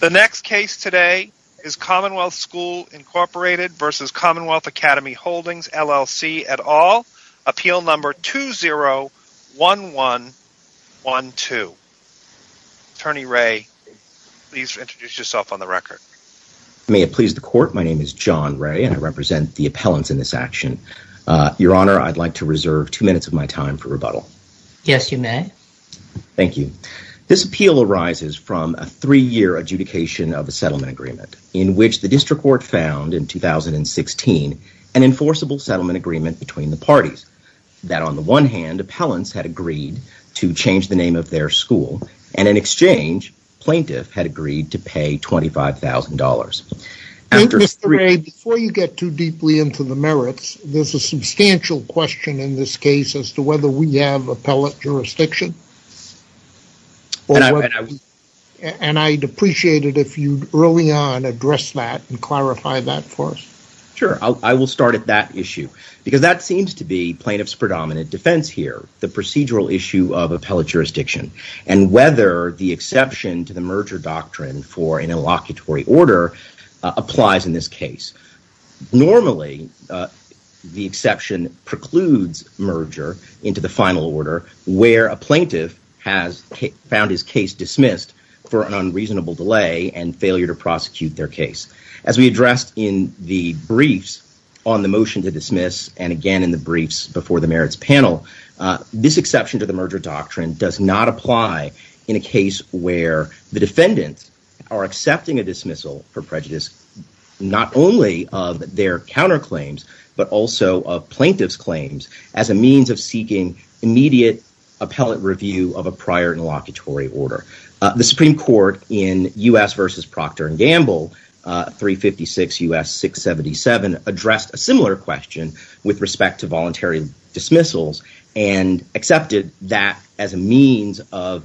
The next case today is Commonwealth School, Inc. v. Commonwealth Academy Holdings, LLC, et al. Appeal number 201112. Attorney Ray, please introduce yourself on the record. May it please the court, my name is John Ray and I represent the appellants in this action. Your Honor, I'd like to reserve two minutes of my time for rebuttal. Yes, you may. Thank you. This appeal arises from a three-year adjudication of a settlement agreement in which the district court found in 2016 an enforceable settlement agreement between the parties that on the one hand appellants had agreed to change the name of their school and in exchange plaintiff had agreed to pay $25,000. Mr. Ray, before you get too deeply into the merits, there's a substantial question in this case. Is there an exception to the merger doctrine for an inlocutory order in this case? Normally the exception precludes merger into the final order where a plaintiff has found his case dismissed for an unreasonable delay and failure to prosecute their case. As we addressed in the briefs on the motion to dismiss and again in the briefs before the merits panel, this exception to the merger doctrine does not apply in a case where the defendant are accepting a dismissal for prejudice not only of their counterclaims but also of claims as a means of seeking immediate appellate review of a prior inlocutory order. The Supreme Court in U.S. v. Procter & Gamble 356 U.S. 677 addressed a similar question with respect to voluntary dismissals and accepted that as a means of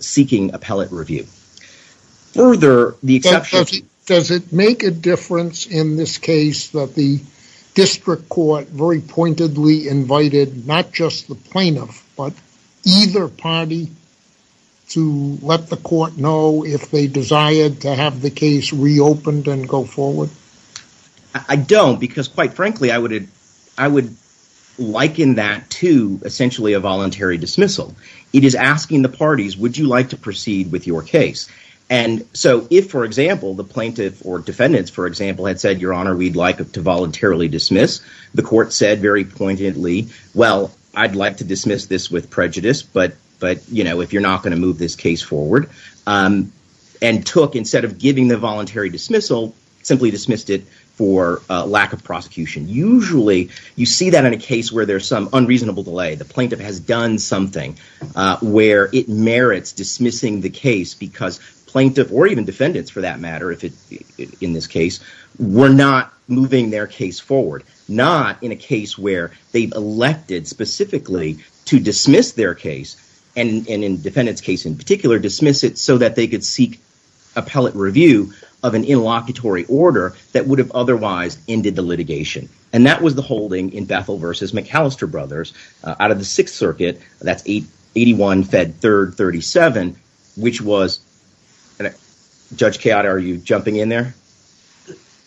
seeking appellate review. Further, does it make a difference in this case that the district court very pointedly invited not just the plaintiff but either party to let the court know if they desired to have the case reopened and go forward? I don't because quite frankly I would liken that to essentially a and so if for example the plaintiff or defendants for example had said your honor we'd like to voluntarily dismiss the court said very pointedly well I'd like to dismiss this with prejudice but but you know if you're not going to move this case forward and took instead of giving the voluntary dismissal simply dismissed it for lack of prosecution. Usually you see that in a case where there's some unreasonable delay the plaintiff has done something where it merits dismissing the plaintiff or even defendants for that matter if it in this case were not moving their case forward not in a case where they've elected specifically to dismiss their case and in defendants case in particular dismiss it so that they could seek appellate review of an interlocutory order that would have otherwise ended the litigation and that was the holding in Bethel versus McAllister brothers out of the sixth circuit that's 881 fed 3rd 37 which was and judge chaotic are you jumping in there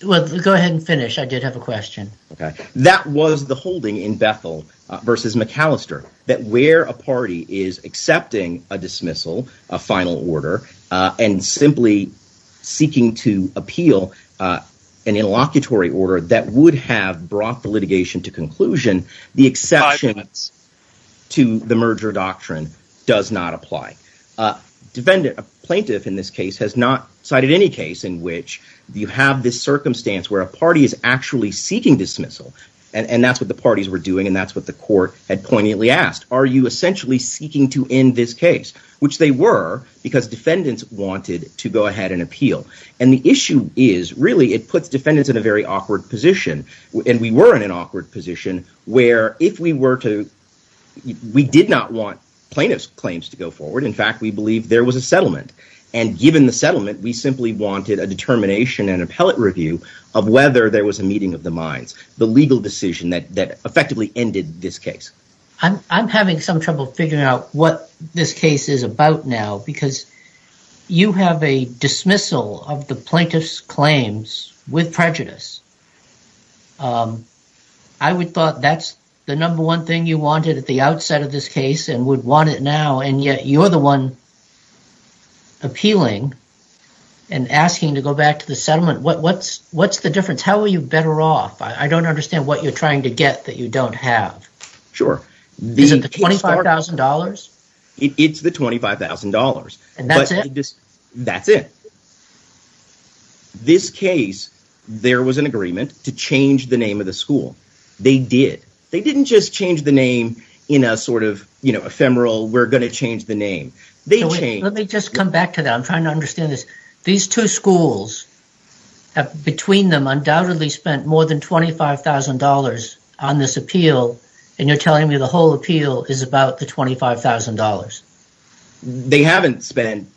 well go ahead and finish I did have a question okay that was the holding in Bethel versus McAllister that where a party is accepting a dismissal a final order and simply seeking to appeal an interlocutory order that would have brought the litigation to conclusion the exception to the merger doctrine does not apply defendant plaintiff in this case has not cited any case in which you have this circumstance where a party is actually seeking dismissal and that's what the parties were doing and that's what the court had poignantly asked are you essentially seeking to end this case which they were because defendants wanted to go ahead and appeal and the issue is really it puts defendants in a very awkward position and we were in an awkward position where if we were to we did not want plaintiff's claims to go forward in fact we believe there was a settlement and given the settlement we simply wanted a determination and appellate review of whether there was a meeting of the minds the legal decision that that effectively ended this case I'm having some trouble figuring out what this case is about now because you have a dismissal of the plaintiff's claims with prejudice I would thought that's the number one thing you wanted at the outset of this case and would want it now and yet you're the one appealing and asking to go back to the settlement what what's what's the difference how are you better off I don't understand what you're trying to get that you and that's it that's it this case there was an agreement to change the name of the school they did they didn't just change the name in a sort of you know ephemeral we're going to change the name they changed let me just come back to that I'm trying to understand this these two schools have between them undoubtedly spent more than twenty five thousand dollars on this appeal and you're telling me the whole appeal is about the twenty five thousand dollars they haven't spent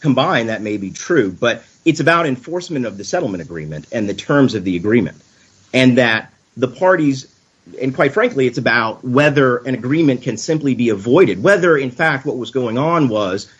combined that may be true but it's about enforcement of the settlement agreement and the terms of the agreement and that the parties and quite frankly it's about whether an agreement can simply be avoided whether in fact what was going on was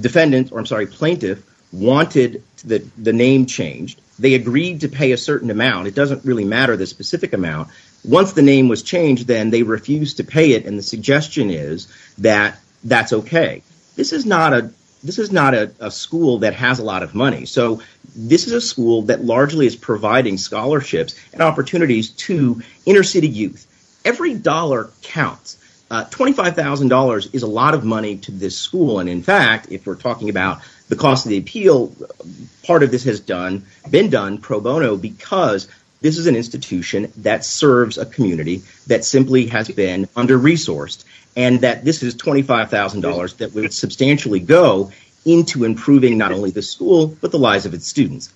defendant or I'm sorry plaintiff wanted that the name changed they agreed to pay a certain amount it doesn't really matter the specific amount once the name was changed then they refused to pay it the suggestion is that that's okay this is not a this is not a school that has a lot of money so this is a school that largely is providing scholarships and opportunities to inner city youth every dollar counts uh twenty five thousand dollars is a lot of money to this school and in fact if we're talking about the cost of the appeal part of this has done been done pro bono because this is an institution that serves a community that simply has been under resourced and that this is twenty five thousand dollars that would substantially go into improving not only the school but the lives of its students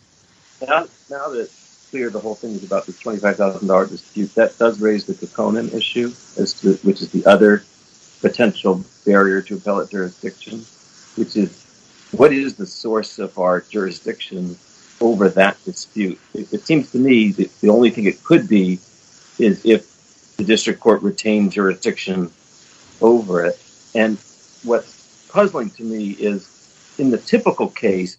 now that's clear the whole thing is about the twenty five thousand dollars dispute that does raise the component issue as to which is the other potential barrier to appellate jurisdiction which is what is the source of our jurisdiction over that dispute it seems to me that the only thing it could be is if the district court retained jurisdiction over it and what's puzzling to me is in the typical case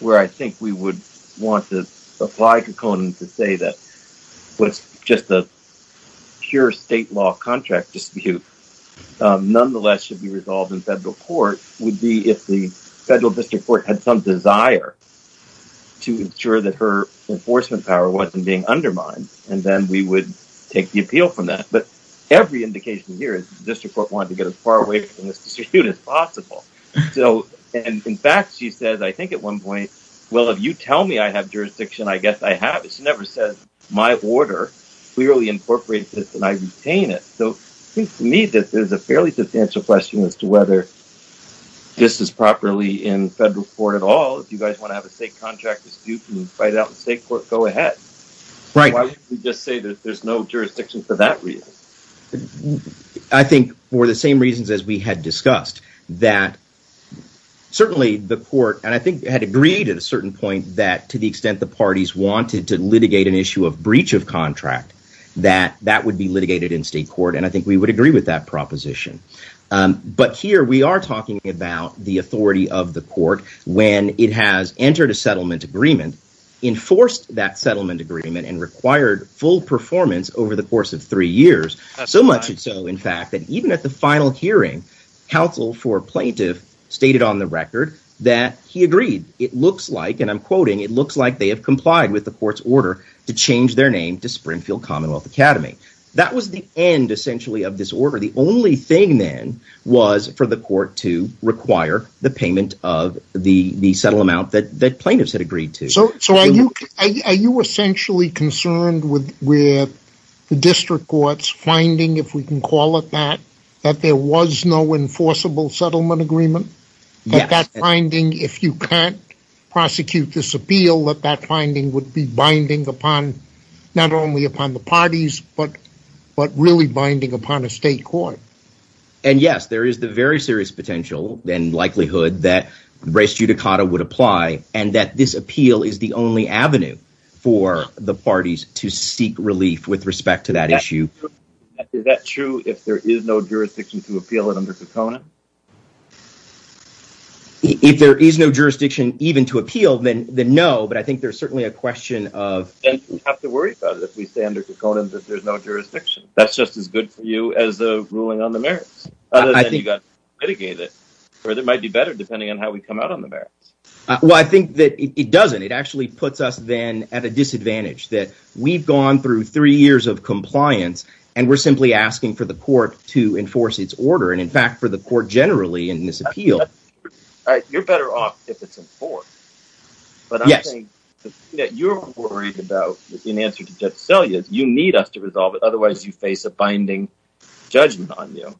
where I think we would want to apply to Conan to say that what's just a pure state law contract dispute nonetheless should be resolved in federal court would be if the federal district court had some desire to ensure that her enforcement power wasn't being undermined and then we would take the appeal from that but every indication here is the district court wanted to get as far away from this dispute as possible so and in fact she says I think at one point well if you tell me I have jurisdiction I guess I have it she never says my order clearly incorporated this and I retain it so I think to me this is a fairly substantial question as to whether this is properly in federal court at all if you guys want to have a state contract dispute and fight out the state court go ahead right why don't we just say that there's no jurisdiction for that reason I think for the same reasons as we had discussed that certainly the court and I think had agreed at a certain point that to the extent the parties wanted to litigate an issue of breach of contract that that would be litigated in state court and I think we would agree with that proposition but here we are talking about the authority of the court when it has entered a settlement agreement enforced that settlement agreement and required full performance over the course of three years so much so in fact that even at the final hearing counsel for plaintiff stated on the record that he agreed it looks like and I'm quoting it looks like they have complied with the court's order to change their name to Springfield Commonwealth Academy that was the end essentially of this order the only thing then was for the court to require the payment of the the settle amount that that plaintiffs had agreed to so so are you are you essentially concerned with with the district court's finding if we can call it that that there was no enforceable settlement agreement that that finding if you can't prosecute this appeal that that finding would be binding upon not only upon the parties but but really binding upon a state court and yes there is the very serious potential and likelihood that race judicata would apply and that this appeal is the only avenue for the parties to seek relief with respect to that issue is that true if there is no jurisdiction to appeal it under component if there is no jurisdiction even to appeal then then no but I think there's certainly a question of and you have to worry about it if we stay under components that there's no jurisdiction that's just as good for you as the ruling on the merits other than you got to mitigate it or that might be better depending on how we come out on the merits well I think that it doesn't it actually puts us then at a disadvantage that we've gone through three years of compliance and we're simply asking for the court to enforce its order and in fact for the court generally in in answer to judge sellias you need us to resolve it otherwise you face a binding judgment on you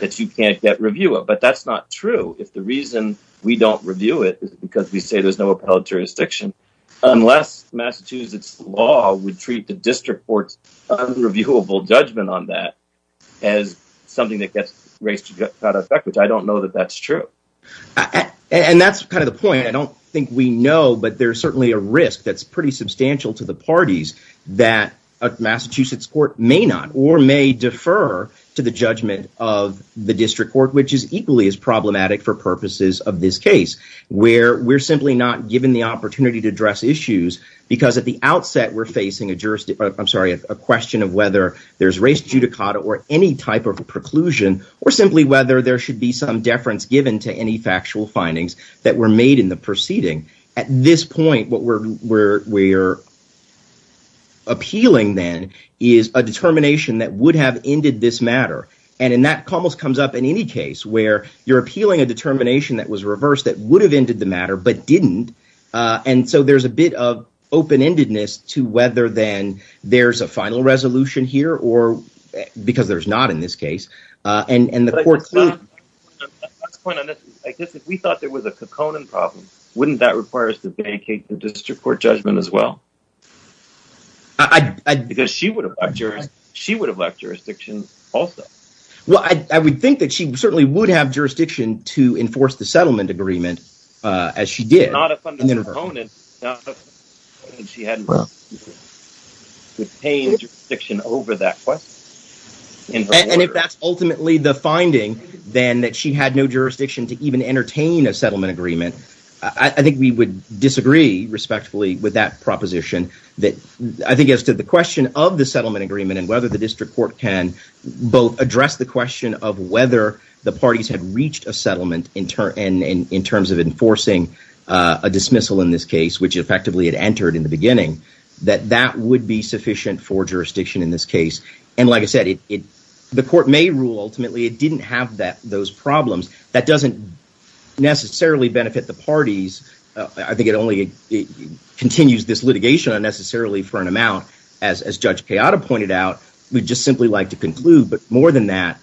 that you can't get review of but that's not true if the reason we don't review it is because we say there's no appellate jurisdiction unless massachusetts law would treat the district court's unreviewable judgment on that as something that gets race to get out of effect which I don't know that that's true and that's kind of the point I don't think we know but there's certainly a risk that's pretty substantial to the parties that a massachusetts court may not or may defer to the judgment of the district court which is equally as problematic for purposes of this case where we're simply not given the opportunity to address issues because at the outset we're facing a jurisdiction I'm sorry a question of whether there's race judicata or any type of a preclusion or simply whether there should be some deference given to any factual findings that were made in the proceeding at this point what we're we're we're appealing then is a determination that would have ended this matter and in that almost comes up in any case where you're appealing a determination that was reversed that would have ended the matter but didn't uh and so there's a bit of open-endedness to whether then there's a final resolution here or because there's not in and and the court's point on this I guess if we thought there was a coconan problem wouldn't that require us to vacate the district court judgment as well I I because she would have lectured she would have left jurisdiction also well I I would think that she certainly would have jurisdiction to enforce the settlement agreement uh as she did not upon that's ultimately the finding then that she had no jurisdiction to even entertain a settlement agreement I think we would disagree respectfully with that proposition that I think as to the question of the settlement agreement and whether the district court can both address the question of whether the parties had reached a settlement in turn and in terms of enforcing uh a dismissal in this case which effectively it entered in the beginning that that would be sufficient for jurisdiction in this case and like I said it the court may rule ultimately it didn't have that those problems that doesn't necessarily benefit the parties I think it only it continues this litigation unnecessarily for an amount as as Judge Kayada pointed out we'd just simply like to conclude but more than that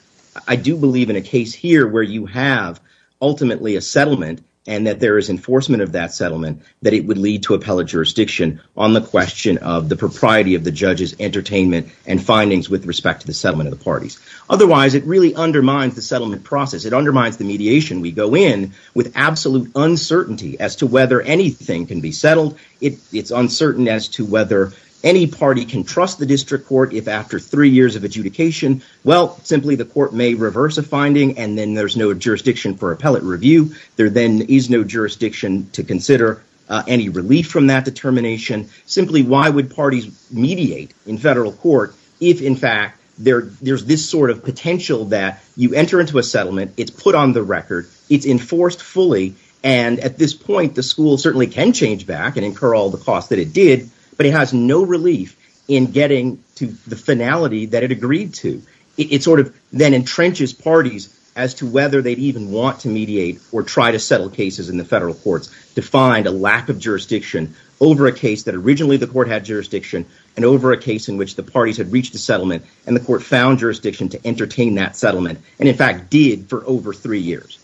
I do believe in a case here where you have ultimately a settlement and that there is enforcement of that settlement that it would lead to appellate jurisdiction on the question of the propriety of the judge's entertainment and findings with respect to the settlement of the parties otherwise it really undermines the settlement process it undermines the mediation we go in with absolute uncertainty as to whether anything can be settled it it's uncertain as to whether any party can trust the district court if after three years of adjudication well simply the court may reverse a finding and then there's no jurisdiction for appellate review there then is no jurisdiction to consider uh any relief from that determination simply why would parties mediate in federal court if in fact there there's this sort of potential that you enter into a settlement it's put on the record it's enforced fully and at this point the school certainly can change back and incur all the costs that it did but it has no relief in getting to the finality that it agreed to it sort of then entrenches parties as to whether they'd even want to mediate or try to settle cases in the federal courts to find a lack of jurisdiction over a case that originally the court had jurisdiction and over a case in which the parties had reached a settlement and the court found jurisdiction to entertain that settlement and in fact did for over three years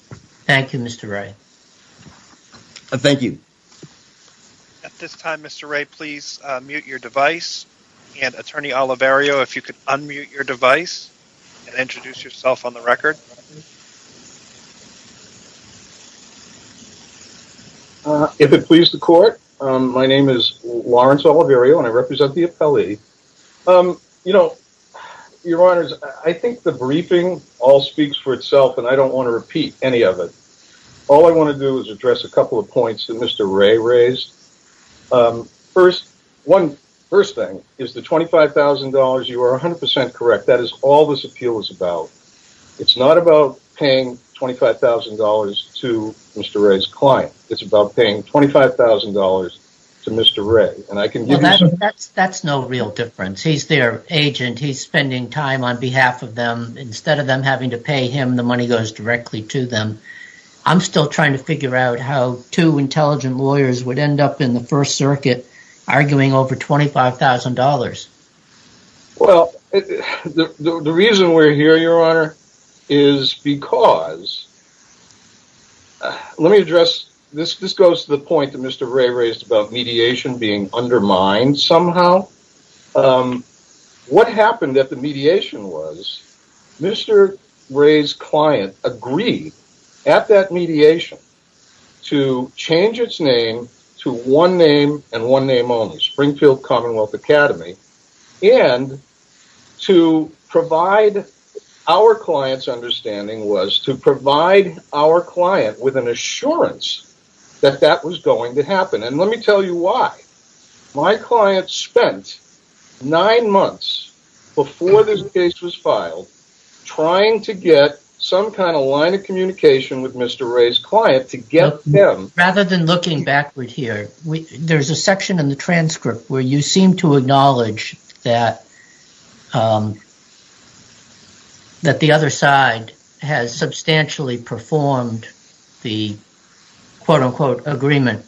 thank you mr ray thank you at this time mr ray please mute your device and attorney olivario if you could unmute your device and introduce yourself on the record uh if it please the court um my name is lawrence olivario and i represent the appellee um you know your honors i think the briefing all speaks for itself and i don't want to repeat any of it all i want to do is address a couple of points that mr ray raised um first one first thing is the 25 000 you are 100 correct that is all this appeal is about it's not about paying 25 000 to mr ray's client it's about paying 25 000 to mr ray and i can give you that's that's no real difference he's their agent he's spending time on behalf of them instead of them having to pay him the money goes directly to them i'm still trying to figure out how two intelligent lawyers would end up in the first circuit arguing over 25 000 well the reason we're here your honor is because let me address this this goes to the point that mr ray raised about mediation being undermined somehow um what happened at the mediation was mr ray's client agreed at that mediation to change its name to one name and one name only springfield commonwealth academy and to provide our clients understanding was to provide our client with an assurance that that was going to happen and let me tell you why my client spent nine months before this case was filed trying to get some kind of line of communication with mr ray's client to get them rather than looking backward here we there's a section in the transcript where you seem to acknowledge that um that the other side has substantially performed the quote-unquote performed it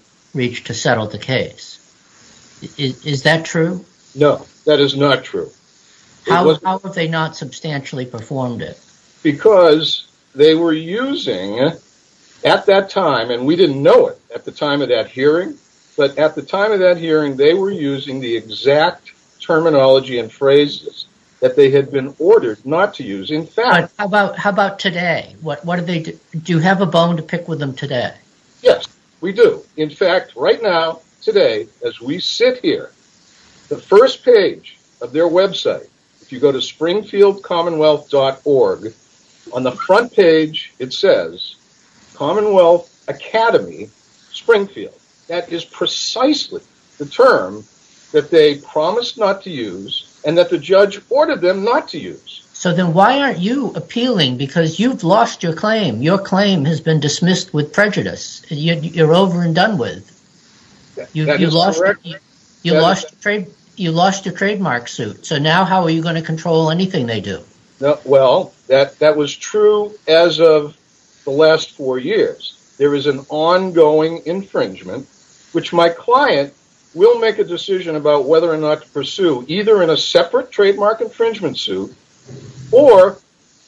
because they were using at that time and we didn't know it at the time of that hearing but at the time of that hearing they were using the exact terminology and phrases that they had been ordered not to use in fact how about how about today what what did they do do you have a bone to pick with them today yes we do in fact right now today as we sit here the first page of their website if you go to springfield commonwealth.org on the front page it says commonwealth academy springfield that is precisely the term that they promised not to use and that the judge ordered them not to use so then why aren't you appealing because you've lost your claim your claim has been dismissed with prejudice you're over and done with you lost you lost trade you lost your trademark suit so now how are you going to control anything they do no well that that was true as of the last four years there is an ongoing infringement which my client will make a decision about whether or not to pursue either in a separate trademark infringement suit or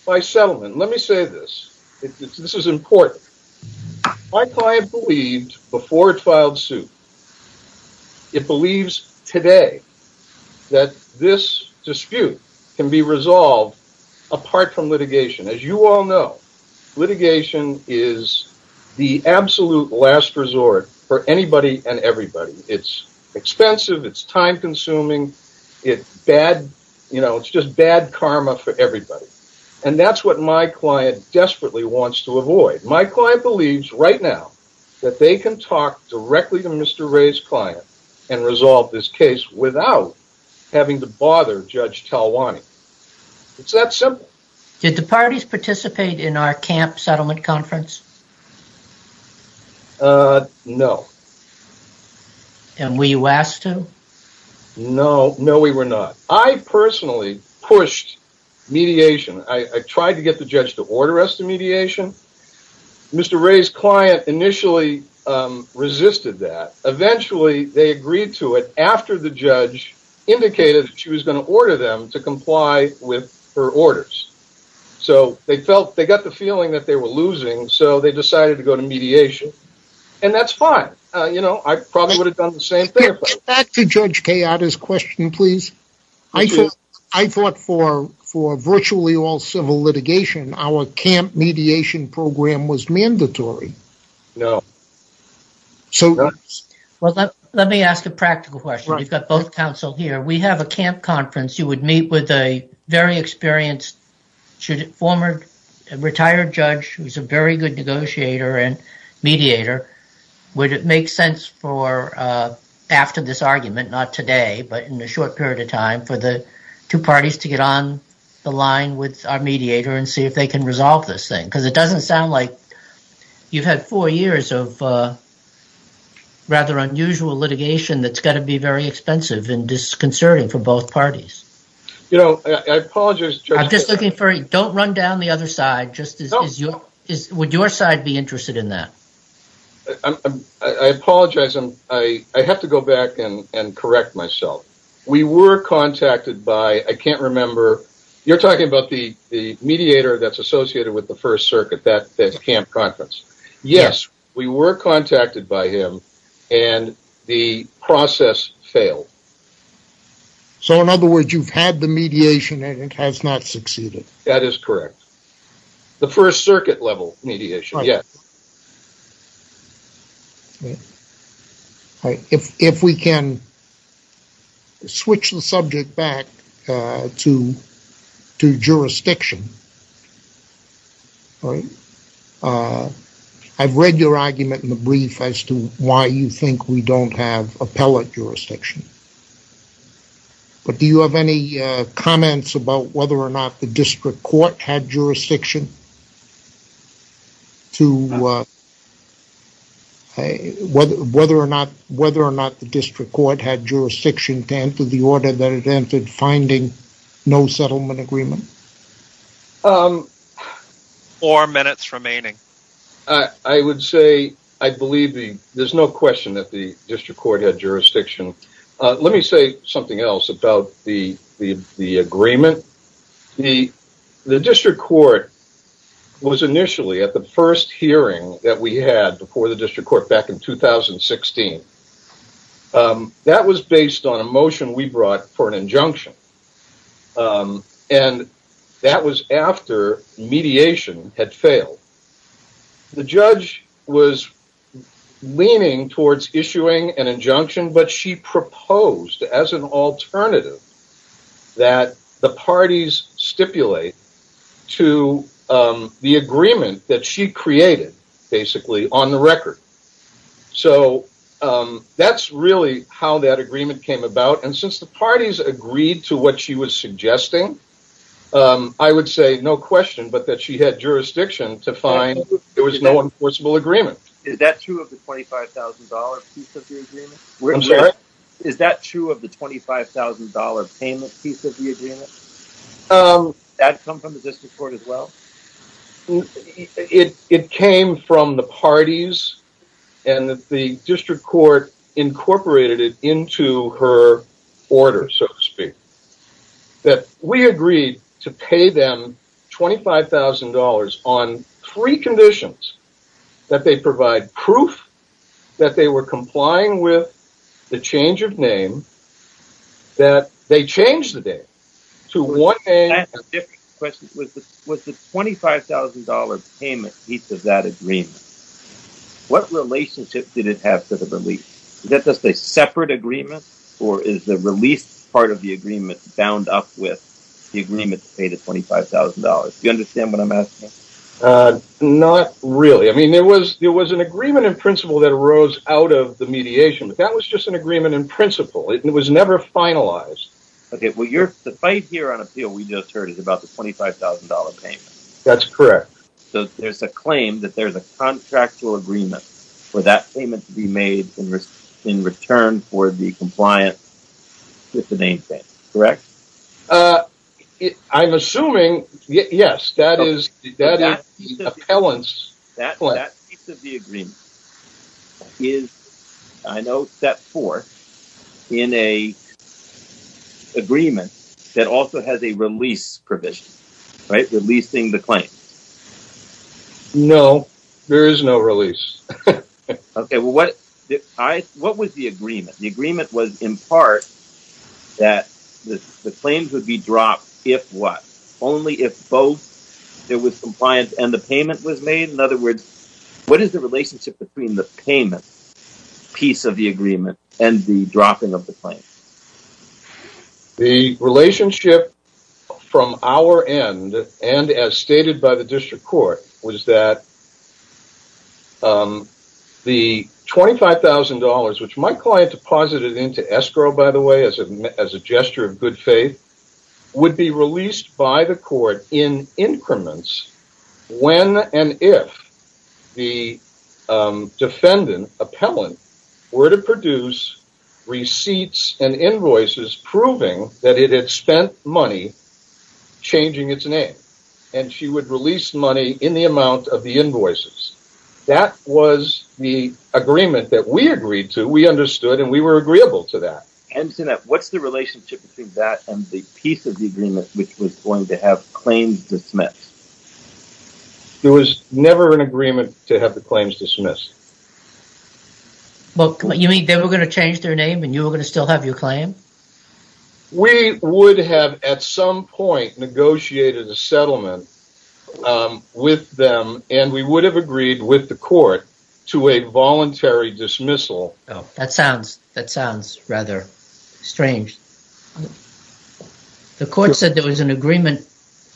by settlement let me say this this is important my client believed before it filed suit it believes today that this dispute can be resolved apart from litigation as you all know litigation is the absolute last resort for anybody and everybody it's expensive it's time consuming it bad you know it's just bad karma for everybody and that's what my client desperately wants to avoid my client believes right now that they can talk directly to mr ray's client and resolve this case without having to bother judge talwani it's that simple did the parties participate in our camp settlement conference uh no and were you asked to no no we were not i personally pushed mediation i i tried to get the judge to order us to mediation mr ray's client initially um resisted that eventually they agreed to it after the judge indicated she was going to order them to comply with her orders so they felt they got the feeling that they were losing so they decided to go to mediation and that's fine uh you know i probably would have done the same back to judge chaotic question please i thought i thought for for virtually all civil litigation our camp mediation program was mandatory no so well let me ask a practical question we've got both counsel here we have a camp conference you would meet with a very experienced should former retired judge who's a very good negotiator and mediator would it make sense for uh after this argument not today but in a short period of time for the two parties to get on the line with our mediator and see if they can resolve this thing because it doesn't sound like you've had four years of uh rather unusual litigation that's got to be very expensive and disconcerting for both parties you know i apologize i'm just looking for you don't run down the other side just as is your is would your side be interested in that i'm i apologize i'm i i have to go back and and correct myself we were contacted by i can't remember you're talking about the the mediator that's associated with the first circuit that that's camp conference yes we were contacted by him and the process failed so in other words you've had the mediation and it has not succeeded that is correct the first circuit level mediation yes all right if if we can switch the subject back uh to to jurisdiction all right uh i've read your argument in the brief as to why you think we don't have appellate jurisdiction but do you have any uh comments about whether or not the district court had jurisdiction to uh hey whether whether or not whether or not the district court had jurisdiction to enter the order that it entered finding no settlement agreement um four minutes uh let me say something else about the the the agreement the the district court was initially at the first hearing that we had before the district court back in 2016 um that was based on a motion we brought for an injunction um and that was after mediation had failed the judge was leaning towards issuing an injunction but she proposed as an alternative that the parties stipulate to um the agreement that she created basically on the record so um that's really how that agreement came about and since the parties agreed to what she was suggesting um i would say no question but that she had jurisdiction to find there was no enforceable is that true of the $25,000 piece of the agreement is that true of the $25,000 payment piece of the agreement um that come from the district court as well it it came from the parties and the district court incorporated it into her order so to speak that we agreed to pay them $25,000 on three conditions that they provide proof that they were complying with the change of name that they changed the date to one name question was the $25,000 payment piece of that agreement what relationship did it have to the release is that just a separate agreement or is the release part of the agreement bound up with the agreement to pay the $25,000 you understand what i'm asking uh not really i mean there was there was an agreement in principle that rose out of the mediation but that was just an agreement in principle it was never finalized okay well you're the fight here on appeal we just heard is about the $25,000 payment that's correct so there's a claim that there's a contractual agreement for that payment to be made in return for the compliance with the name thing correct uh i'm assuming yes that is that appellants that piece of the agreement is i know step four in a agreement that also has a release provision right releasing the claim no there is no release okay well what i what was the agreement the agreement was in part that the claims would be dropped if what only if both there was compliance and the payment was made in other words what is the relationship between the payment piece of the agreement and the dropping of the claim the relationship from our end and as stated by the district court was that um the $25,000 which my client deposited into escrow by the way as a as a gesture of good faith would be released by the court in increments when and if the defendant appellant were to produce receipts and invoices proving that it had spent money changing its name and she would release money in the amount of the invoices that was the agreement that we agreed to we understood and we were agreeable to that and so that what's the relationship between that and the piece of the agreement which was going to have claims dismissed there was never an agreement to have the claims dismissed well you mean they were going to change their name and you were going to still have your claim we would have at some point negotiated a settlement with them and we would have agreed with the court to a voluntary dismissal oh that sounds that sounds rather strange the court said there was an agreement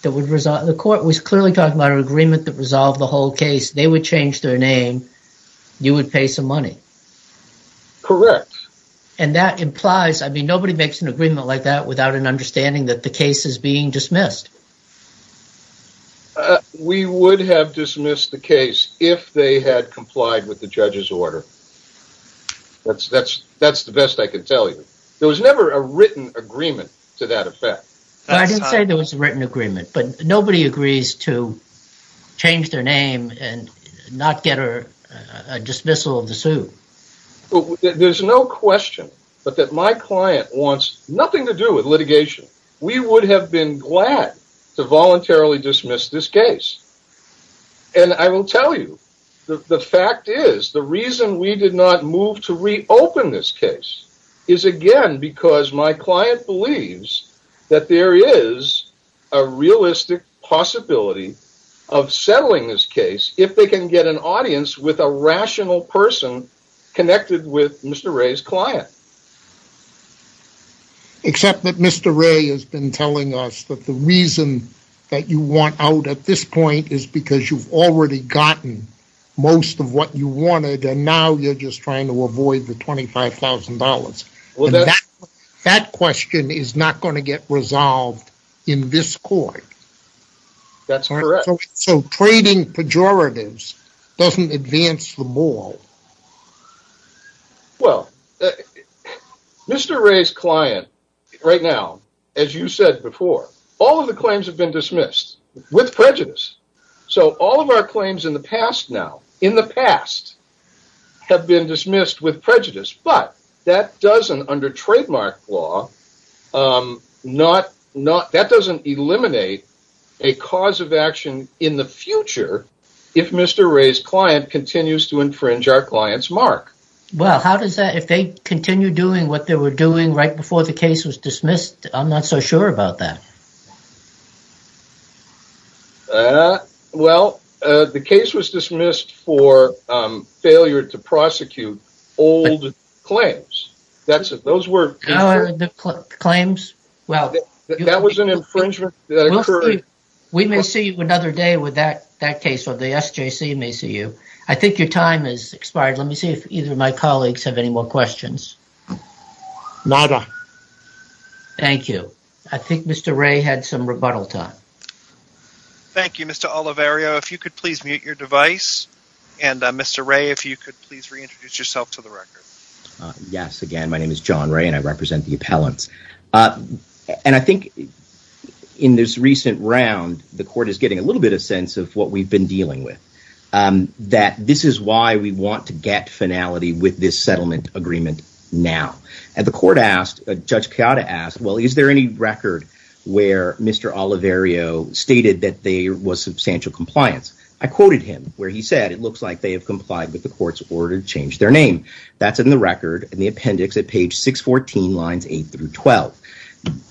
that would result the court was clearly talking about an agreement that resolved the whole case they would change their name you would pay some money correct and that implies i mean nobody makes an agreement like that without an understanding that the case is being dismissed we would have dismissed the case if they had complied with the judge's order that's that's that's the best i can tell you there was never a written agreement to that effect i didn't say there was a written agreement but nobody agrees to but that my client wants nothing to do with litigation we would have been glad to voluntarily dismiss this case and i will tell you the fact is the reason we did not move to reopen this case is again because my client believes that there is a realistic possibility of settling this case if they can get an audience with a rational person connected with mr ray's client except that mr ray has been telling us that the reason that you want out at this point is because you've already gotten most of what you wanted and now you're just trying to avoid the 25 000 that question is not going to get resolved in this court that's correct so trading pejoratives doesn't advance the ball well mr ray's client right now as you said before all of the claims have been dismissed with prejudice so all of our claims in the past now in the past have been dismissed with prejudice but that doesn't under trademark law um not not that doesn't eliminate a cause of action in the future if mr ray's client continues to infringe our client's mark well how does that if they continue doing what they were doing right before the case was dismissed i'm not so sure about that uh well uh the case was dismissed for um failure to prosecute old claims that's it those were the claims well that was an infringement we may see you another day with that that case or the sjc may see you i think your time has expired let me see if either of my colleagues have any more questions nada thank you i think mr ray had some rebuttal time thank you mr olivario if you could please mute your device and uh mr ray if you could please reintroduce yourself to the record uh yes again my name is john ray and i represent the appellants uh and i think in this recent round the court is getting a little bit of sense of what we've been dealing with um that this is why we want to get finality with this settlement agreement now and the court asked judge chiara asked well is there any record where mr olivario stated that there was substantial compliance i quoted him where he said it looks like they have complied with the court's order to change their name that's in the record in the appendix at page 614 lines 8 through 12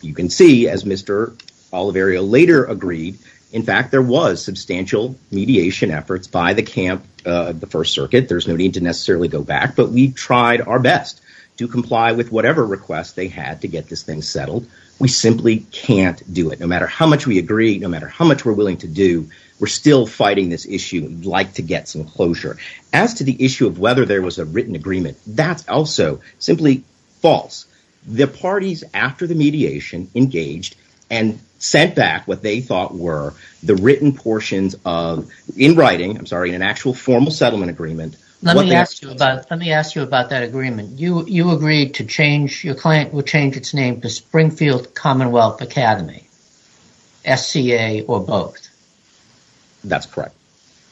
you can see as mr olivario later agreed in fact there was substantial mediation efforts by the camp uh the first circuit there's no need to necessarily go back but we tried our best to comply with whatever request they had to get this thing settled we simply can't do it no matter how much we agree no matter how much we're willing to do we're still fighting this issue we'd like to get some closure as to the issue of whether there was a written agreement that's also simply false the parties after the mediation engaged and sent back what they thought were the written portions of in writing i'm sorry an actual formal settlement agreement let me ask you about let me ask you about that agreement you you agreed to change your client would change its name to springfield commonwealth academy sca or both that's correct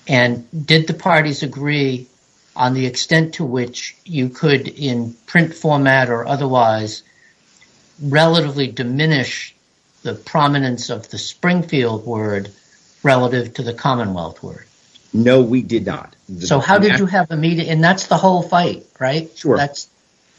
and did the parties agree on the extent to which you could in print format or otherwise relatively diminish the prominence of the springfield word relative to the commonwealth word no we did not so how did you have immediate and that's the whole fight right sure that's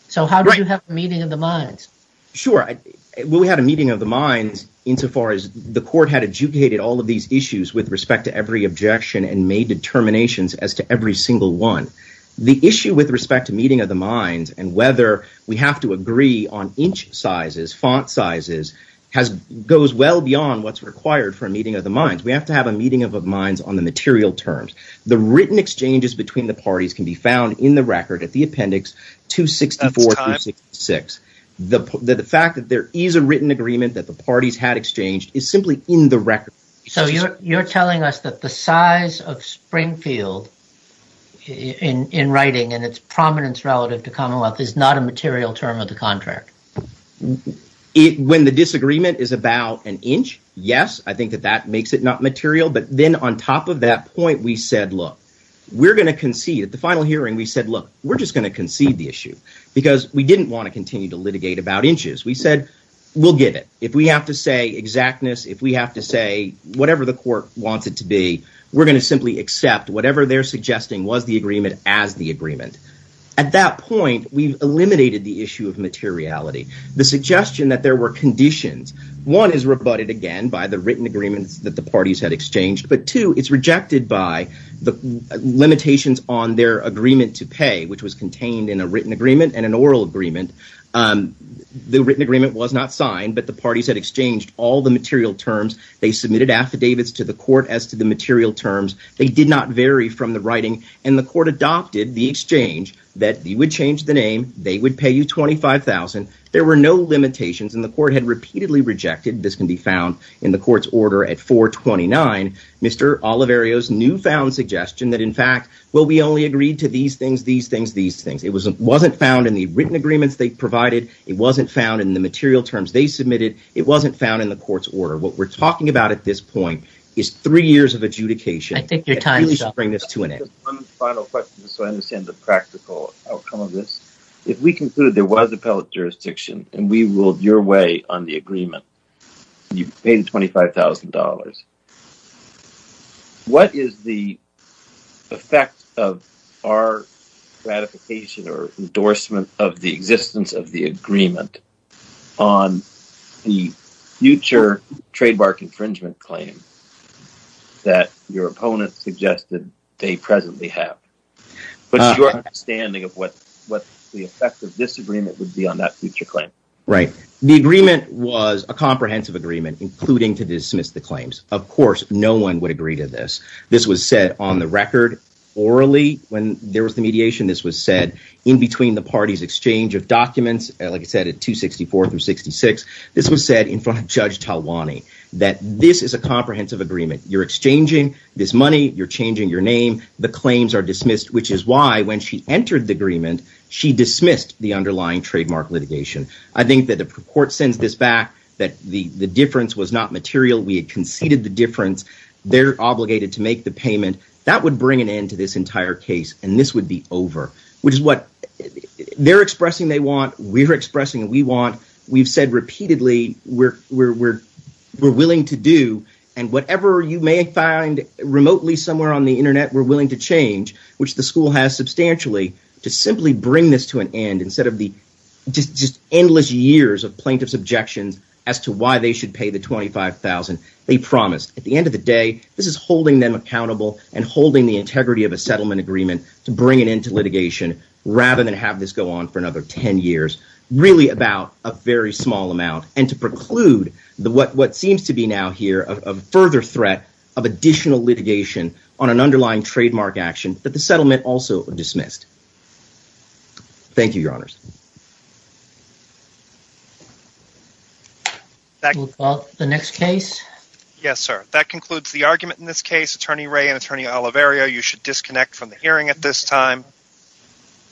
so how do you have a meeting of the minds sure i well we had a meeting of the minds insofar as the court had educated all of these issues with respect to every objection and made determinations as to every single one the issue with respect to meeting of the minds and whether we have to agree on inch sizes font sizes has goes well beyond what's required for a meeting of the minds we have to have a meeting of minds on the material terms the written exchanges between the six the the fact that there is a written agreement that the parties had exchanged is simply in the record so you're you're telling us that the size of springfield in in writing and its prominence relative to commonwealth is not a material term of the contract it when the disagreement is about an inch yes i think that that makes it not material but then on top of that point we said look we're going to concede at the final hearing we said look we're just going to concede the issue because we didn't want to continue to litigate about inches we said we'll get it if we have to say exactness if we have to say whatever the court wants it to be we're going to simply accept whatever they're suggesting was the agreement as the agreement at that point we've eliminated the issue of materiality the suggestion that there were conditions one is rebutted again by the written agreements that the parties had exchanged but two it's rejected by the limitations on their agreement to pay which was contained in a written agreement and an oral agreement um the written agreement was not signed but the parties had exchanged all the material terms they submitted affidavits to the court as to the material terms they did not vary from the writing and the court adopted the exchange that you would change the name they would pay you 25 000 there were no limitations and the court had repeatedly rejected this can be found in the court's order at 4 29 mr olivario's newfound suggestion that in fact well we only agreed to these things these things these things it was wasn't found in the written agreements they provided it wasn't found in the material terms they submitted it wasn't found in the court's order what we're talking about at this point is three years of adjudication i think your time should bring this to an end final question so i understand the practical outcome of this if we concluded there was appellate jurisdiction and we ruled your way on the agreement you paid 25 000 what is the effect of our gratification or endorsement of the existence of the agreement on the future trademark infringement claim that your opponent suggested they presently have but your understanding of what what the effect of this agreement would be on that future claim right the agreement was a comprehensive agreement including to dismiss the claims of course no one would agree to this this was said on the record orally when there was the mediation this was said in between the parties exchange of documents like i said at 264 through 66 this was said in front of judge talwani that this is a comprehensive agreement you're exchanging this money you're dismissed which is why when she entered the agreement she dismissed the underlying trademark litigation i think that the court sends this back that the the difference was not material we had conceded the difference they're obligated to make the payment that would bring an end to this entire case and this would be over which is what they're expressing they want we're expressing we want we've said repeatedly we're we're we're willing to do and whatever you may find remotely somewhere on the internet we're willing to change which the school has substantially to simply bring this to an end instead of the just just endless years of plaintiff's objections as to why they should pay the 25 000 they promised at the end of the day this is holding them accountable and holding the integrity of a settlement agreement to bring it into litigation rather than have this go on for another 10 years really about a very small amount and to preclude the what what seems to be now here a further threat of additional litigation on an underlying trademark action that the settlement also dismissed thank you your honors the next case yes sir that concludes the argument in this case attorney ray and attorney alaverio you should disconnect from the hearing at this time